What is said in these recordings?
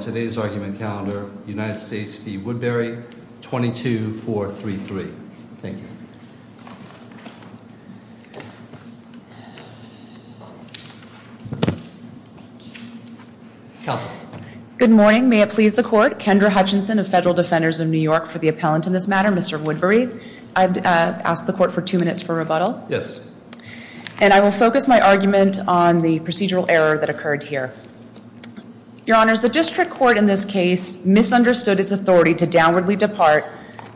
22-433. Thank you. Good morning. May it please the court. Kendra Hutchinson of Federal Defenders of New York for the Appellant in this matter, Mr. Woodberry. I'd ask the court for two minutes for rebuttal. Yes. And I will focus my argument on the procedural error that occurred here. Your Honor, the district court in this case misunderstood its authority to downwardly depart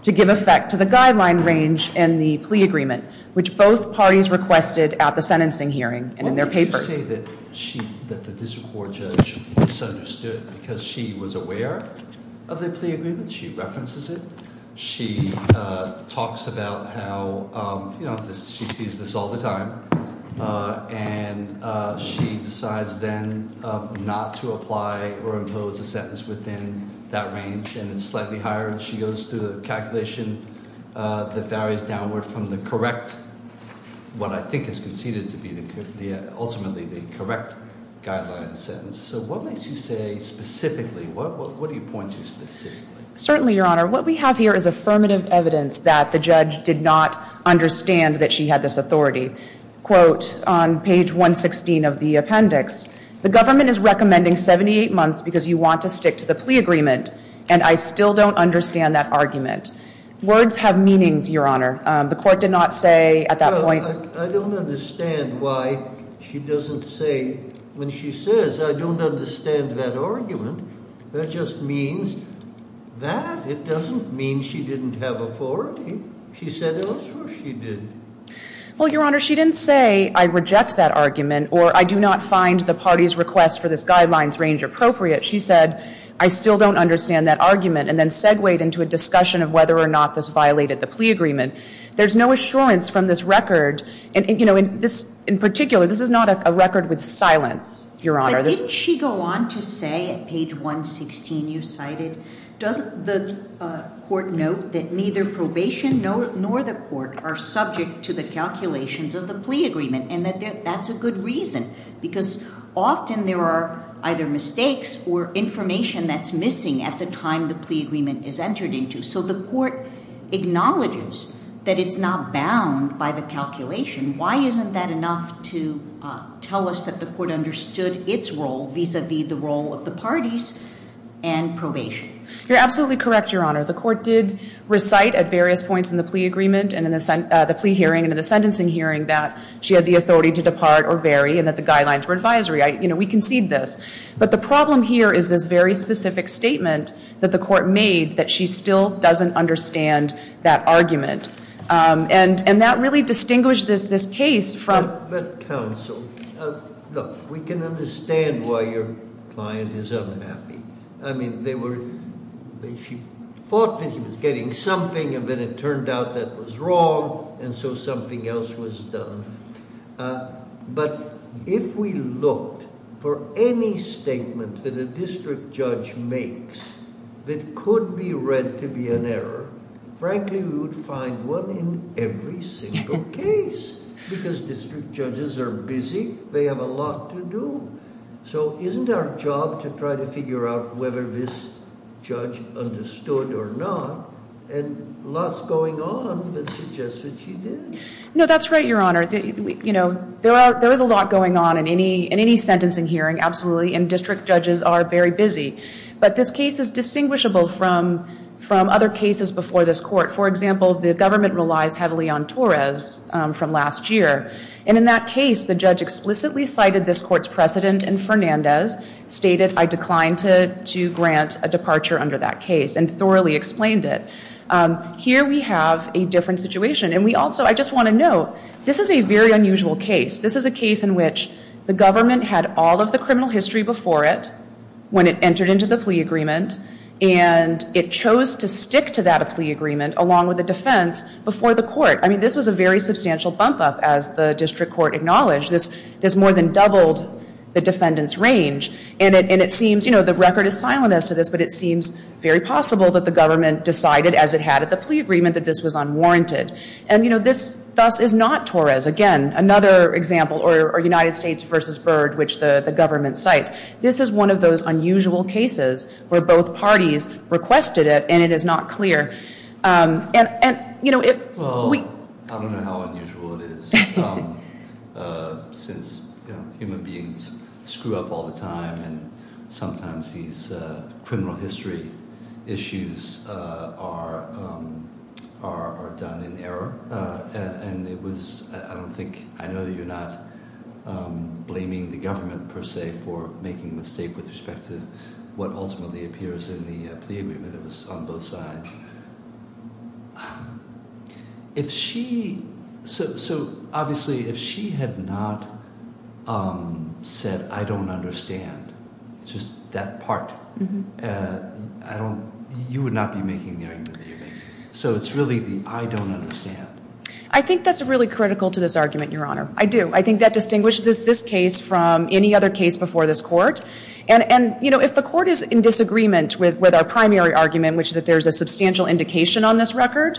to give effect to the guideline range and the plea agreement, which both parties requested at the sentencing hearing and in their papers. I say that the district court judge misunderstood because she was aware of the plea agreement. She references it. She talks about how she sees this all the time, and she decides then not to apply or impose a sentence within that range, and it's slightly higher. She goes through the calculation that varies downward from the correct, what I think is conceded to be ultimately the correct guideline sentence. So what makes you say specifically? What do you point to specifically? Certainly, Your Honor. What we have here is affirmative evidence that the judge did not understand that she had this authority. Quote on page 116 of the appendix. The government is recommending 78 months because you want to stick to the plea agreement, and I still don't understand that argument. Words have meanings, Your Honor. The court did not say at that point. I don't understand why she doesn't say when she says I don't understand that argument. That just means that it doesn't mean she didn't have authority. She said it was or she didn't. Well, Your Honor, she didn't say I reject that argument or I do not find the party's request for this guidelines range appropriate. She said I still don't understand that argument and then segued into a discussion of whether or not this violated the plea agreement. There's no assurance from this record, and you know, in particular, this is not a record with silence, Your Honor. But didn't she go on to say at page 116 you cited? Does the court note that neither probation nor the court are subject to the calculations of the plea agreement? And that's a good reason because often there are either mistakes or information that's missing at the time the plea agreement is entered into. So the court acknowledges that it's not bound by the calculation. Why isn't that enough to tell us that the court understood its role vis-a-vis the role of the parties and probation? You're absolutely correct, Your Honor. The court did recite at various points in the plea agreement and in the plea hearing and in the sentencing hearing that she had the authority to depart or vary and that the guidelines were advisory. You know, we concede this. But the problem here is this very specific statement that the court made that she still doesn't understand that argument. And that really distinguished this case from- But counsel, look, we can understand why your client is unhappy. I mean, they were, she thought that she was getting something and then it turned out that was wrong and so something else was done. But if we looked for any statement that a district judge makes that could be read to be an error, frankly, we would find one in every single case because district judges are busy. They have a lot to do. So isn't our job to try to figure out whether this judge understood or not? And lots going on that suggests that she did. No, that's right, Your Honor. You know, there is a lot going on in any sentencing hearing, absolutely, and district judges are very busy. But this case is distinguishable from other cases before this court. For example, the government relies heavily on Torres from last year. And in that case, the judge explicitly cited this court's precedent and Fernandez stated, I decline to grant a departure under that case and thoroughly explained it. Here we have a different situation. And we also, I just want to note, this is a very unusual case. This is a case in which the government had all of the criminal history before it when it entered into the plea agreement and it chose to stick to that plea agreement along with the defense before the court. I mean, this was a very substantial bump up as the district court acknowledged. This more than doubled the defendant's range. And it seems, you know, the record is silent as to this, but it seems very possible that the government decided, as it had at the plea agreement, that this was unwarranted. And, you know, this thus is not Torres. Again, another example, or United States versus Byrd, which the government cites. This is one of those unusual cases where both parties requested it and it is not clear. And, you know, if we- Well, I don't know how unusual it is. Since, you know, human beings screw up all the time and sometimes these criminal history issues are done in error. And it was, I don't think, I know that you're not blaming the government, per se, for making a mistake with respect to what ultimately appears in the plea agreement. It was on both sides. If she, so obviously if she had not said, I don't understand, just that part, I don't, you would not be making the argument that you're making. So it's really the, I don't understand. I think that's really critical to this argument, Your Honor. I do. I think that distinguishes this case from any other case before this court. And, you know, if the court is in disagreement with our primary argument, which is that there's a substantial indication on this record,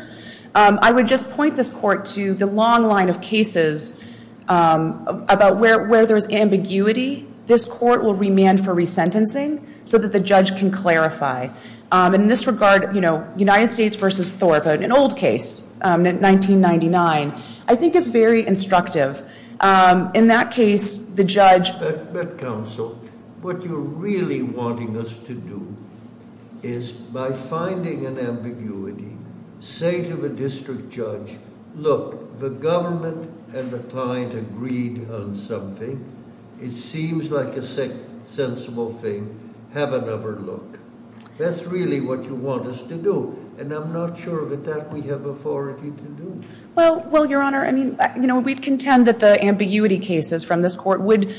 I would just point this court to the long line of cases about where there's ambiguity. This court will remand for resentencing so that the judge can clarify. In this regard, you know, United States versus Thorpe, an old case, 1999, I think is very instructive. In that case, the judge- But, counsel, what you're really wanting us to do is by finding an ambiguity, say to the district judge, look, the government and the client agreed on something. It seems like a sensible thing. Have another look. That's really what you want us to do. And I'm not sure that that we have authority to do. Well, Your Honor, I mean, you know, we'd contend that the ambiguity cases from this court would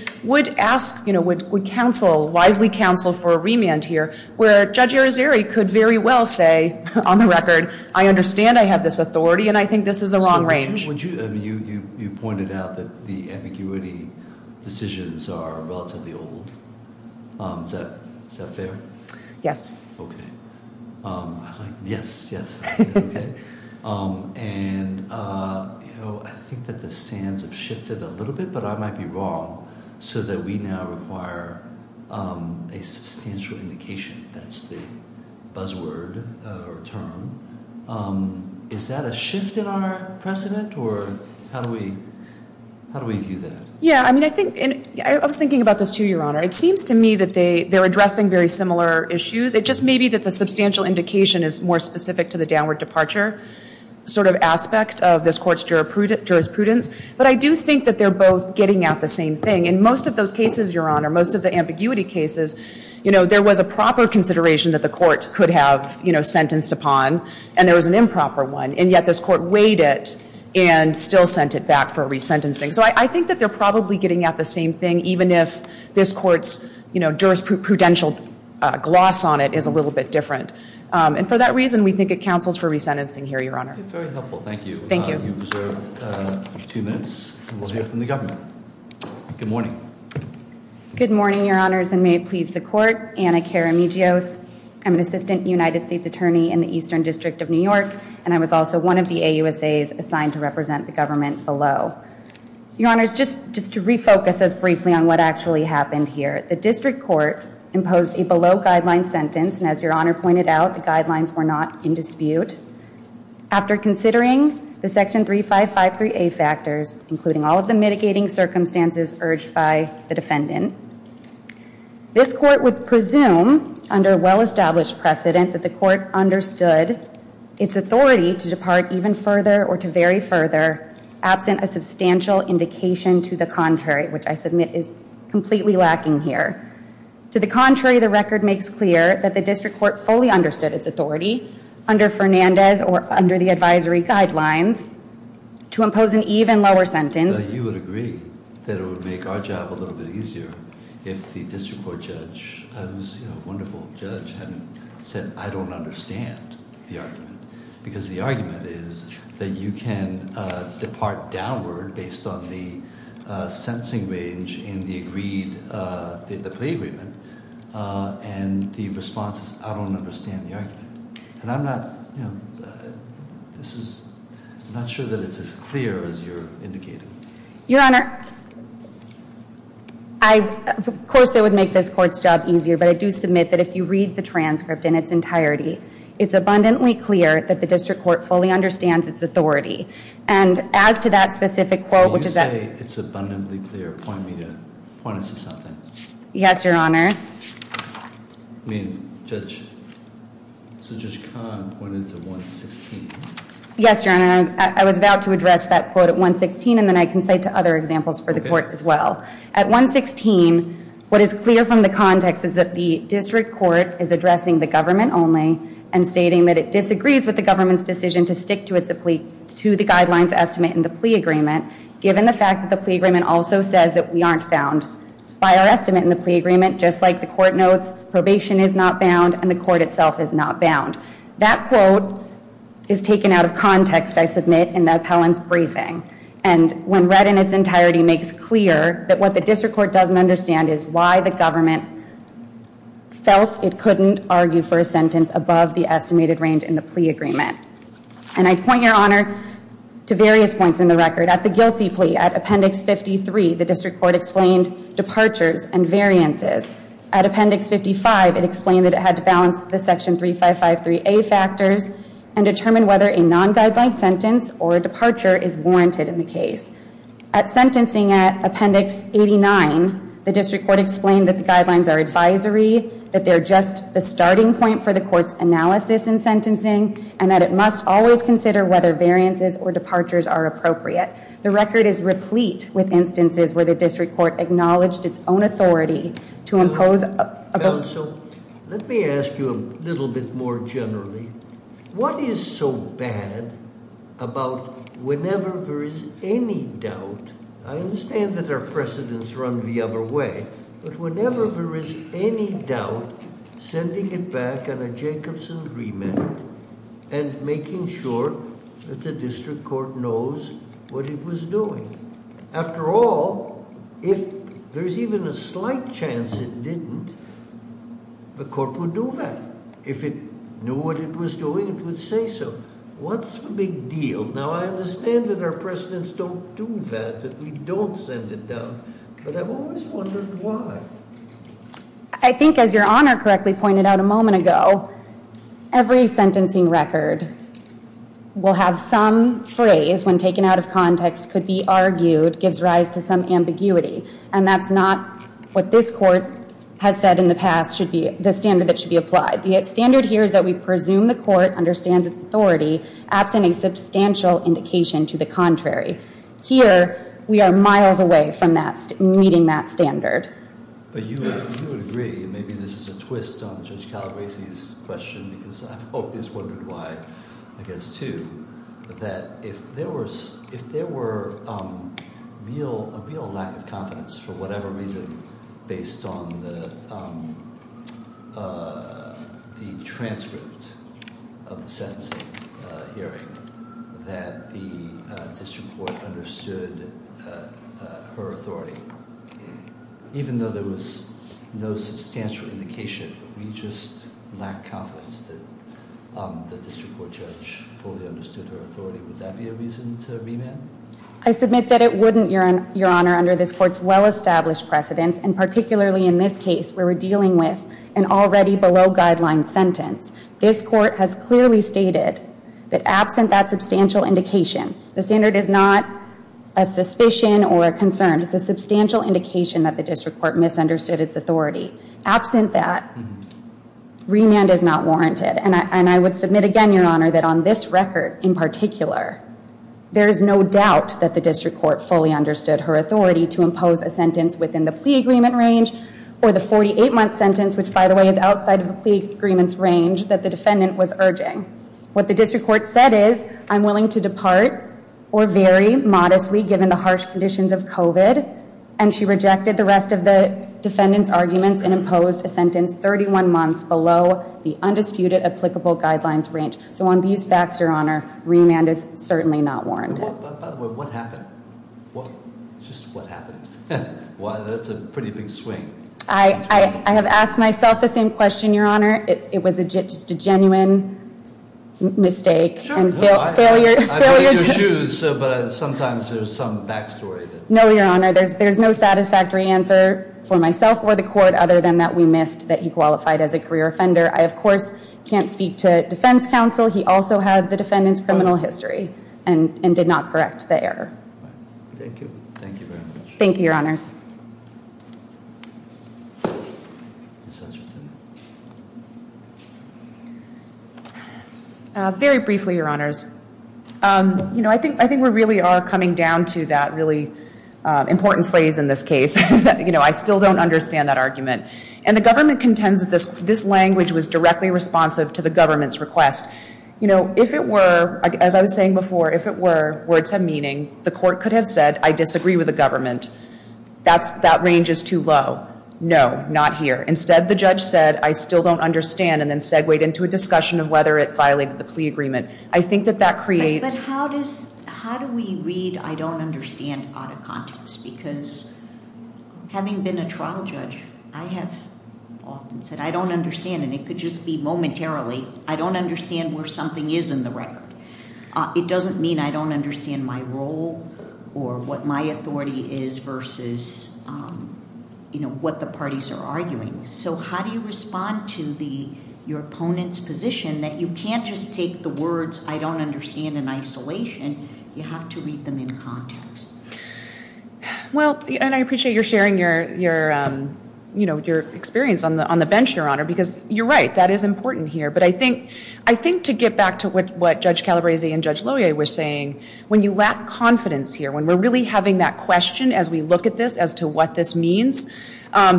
ask, you know, would counsel, wisely counsel for a remand here where Judge Arizeri could very well say, on the record, I understand I have this authority and I think this is the wrong range. You pointed out that the ambiguity decisions are relatively old. Is that fair? Yes. Okay. Yes, yes. Okay. And, you know, I think that the sands have shifted a little bit, but I might be wrong, so that we now require a substantial indication. That's the buzzword or term. Is that a shift in our precedent or how do we view that? Yeah, I mean, I think I was thinking about this, too, Your Honor. It seems to me that they're addressing very similar issues. It just may be that the substantial indication is more specific to the downward departure sort of aspect of this court's jurisprudence. But I do think that they're both getting at the same thing. In most of those cases, Your Honor, most of the ambiguity cases, you know, there was a proper consideration that the court could have, you know, sentenced upon, and there was an improper one. And yet this court weighed it and still sent it back for resentencing. So I think that they're probably getting at the same thing, even if this court's, you know, jurisprudential gloss on it is a little bit different. And for that reason, we think it counsels for resentencing here, Your Honor. Very helpful. Thank you. Thank you. You've reserved two minutes. We'll hear from the government. Good morning. Good morning, Your Honors, and may it please the Court. Anna Karamidzios. I'm an assistant United States attorney in the Eastern District of New York, and I was also one of the AUSAs assigned to represent the government below. Your Honors, just to refocus us briefly on what actually happened here, the district court imposed a below-guideline sentence, and as Your Honor pointed out, the guidelines were not in dispute. After considering the Section 3553A factors, including all of the mitigating circumstances urged by the defendant, this court would presume under well-established precedent that the court understood its authority to depart even further or to vary further, absent a substantial indication to the contrary, which I submit is completely lacking here. To the contrary, the record makes clear that the district court fully understood its authority, under Fernandez or under the advisory guidelines, to impose an even lower sentence. You would agree that it would make our job a little bit easier if the district court judge, who's a wonderful judge, hadn't said, I don't understand the argument, because the argument is that you can depart downward based on the sentencing range in the agreed, the plea agreement, and the response is, I don't understand the argument. And I'm not, you know, this is, I'm not sure that it's as clear as you're indicating. Your Honor, I, of course, it would make this court's job easier, but I do submit that if you read the transcript in its entirety, it's abundantly clear that the district court fully understands its authority. And as to that specific quote, which is that- When you say it's abundantly clear, point me to, point us to something. Yes, Your Honor. I mean, Judge, so Judge Kahn pointed to 116. Yes, Your Honor, I was about to address that quote at 116, and then I can cite to other examples for the court as well. At 116, what is clear from the context is that the district court is addressing the government only and stating that it disagrees with the government's decision to stick to the guidelines estimate in the plea agreement, given the fact that the plea agreement also says that we aren't bound by our estimate in the plea agreement, just like the court notes probation is not bound and the court itself is not bound. That quote is taken out of context, I submit, in the appellant's briefing. And when read in its entirety, makes clear that what the district court doesn't understand is why the government felt it couldn't argue for a sentence above the estimated range in the plea agreement. And I point, Your Honor, to various points in the record. At the guilty plea, at Appendix 53, the district court explained departures and variances. At Appendix 55, it explained that it had to balance the Section 3553A factors and determine whether a non-guideline sentence or a departure is warranted in the case. At sentencing at Appendix 89, the district court explained that the guidelines are advisory, that they're just the starting point for the court's analysis in sentencing, and that it must always consider whether variances or departures are appropriate. The record is replete with instances where the district court acknowledged its own authority to impose- All right, so let me ask you a little bit more generally. What is so bad about whenever there is any doubt- I understand that our precedents run the other way- but whenever there is any doubt, sending it back on a Jacobson remand and making sure that the district court knows what it was doing? After all, if there's even a slight chance it didn't, the court would do that. If it knew what it was doing, it would say so. What's the big deal? Now, I understand that our precedents don't do that, that we don't send it down, but I've always wondered why. I think, as your Honor correctly pointed out a moment ago, every sentencing record will have some phrase when taken out of context, could be argued, gives rise to some ambiguity, and that's not what this court has said in the past should be the standard that should be applied. The standard here is that we presume the court understands its authority, absent a substantial indication to the contrary. Here, we are miles away from meeting that standard. But you would agree, and maybe this is a twist on Judge Calabresi's question, because I've always wondered why, I guess, too, that if there were a real lack of confidence, for whatever reason, based on the transcript of the sentencing hearing, that the district court understood her authority. Even though there was no substantial indication, we just lack confidence that the district court judge fully understood her authority. Would that be a reason to remand? I submit that it wouldn't, your Honor, under this court's well-established precedents, and particularly in this case where we're dealing with an already below-guideline sentence. This court has clearly stated that absent that substantial indication, the standard is not a suspicion or a concern, it's a substantial indication that the district court misunderstood its authority. Absent that, remand is not warranted. And I would submit again, your Honor, that on this record in particular, there is no doubt that the district court fully understood her authority to impose a sentence within the plea agreement range, or the 48-month sentence, which, by the way, is outside of the plea agreement's range, that the defendant was urging. What the district court said is, I'm willing to depart or vary modestly given the harsh conditions of COVID, and she rejected the rest of the defendant's arguments and imposed a sentence 31 months below the undisputed applicable guidelines range. So on these facts, your Honor, remand is certainly not warranted. By the way, what happened? Just what happened? Wow, that's a pretty big swing. I have asked myself the same question, your Honor. It was just a genuine mistake and failure to- I paid your shoes, but sometimes there's some back story. No, your Honor, there's no satisfactory answer for myself or the court other than that we missed that he qualified as a career offender. I, of course, can't speak to defense counsel. He also had the defendant's criminal history and did not correct the error. Thank you. Thank you very much. Thank you, your Honors. Very briefly, your Honors, I think we really are coming down to that really important phrase in this case. I still don't understand that argument. The government contends that this language was directly responsive to the government's request. If it were, as I was saying before, if it were, words have meaning, the court could have said, I disagree with the government. That range is too low. No, not here. Instead, the judge said, I still don't understand, and then segued into a discussion of whether it violated the plea agreement. I think that that creates- But how do we read I don't understand out of context? Because having been a trial judge, I have often said I don't understand, and it could just be momentarily. I don't understand where something is in the record. It doesn't mean I don't understand my role or what my authority is versus what the parties are arguing. So how do you respond to your opponent's position that you can't just take the words I don't understand in isolation. You have to read them in context. Well, and I appreciate your sharing your experience on the bench, your Honor, because you're right. That is important here. But I think to get back to what Judge Calabrese and Judge Loyer were saying, when you lack confidence here, when we're really having that question as we look at this as to what this means,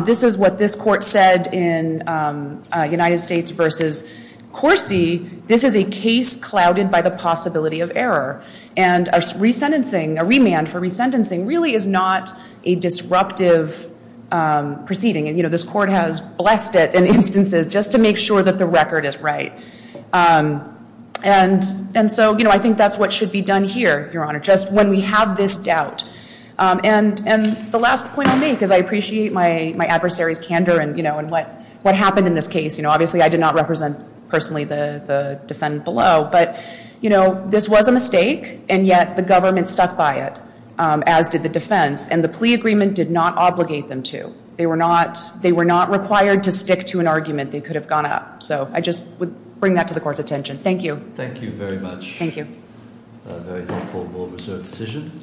this is what this court said in United States v. Corsi. This is a case clouded by the possibility of error, and a remand for resentencing really is not a disruptive proceeding. And this court has blessed it in instances just to make sure that the record is right. And so I think that's what should be done here, Your Honor, just when we have this doubt. And the last point I'll make is I appreciate my adversary's candor and what happened in this case. Obviously, I did not represent personally the defendant below. But this was a mistake, and yet the government stuck by it, as did the defense. And the plea agreement did not obligate them to. They were not required to stick to an argument. They could have gone up. So I just would bring that to the court's attention. Thank you. Thank you very much. Thank you. A very helpful, well-reserved decision.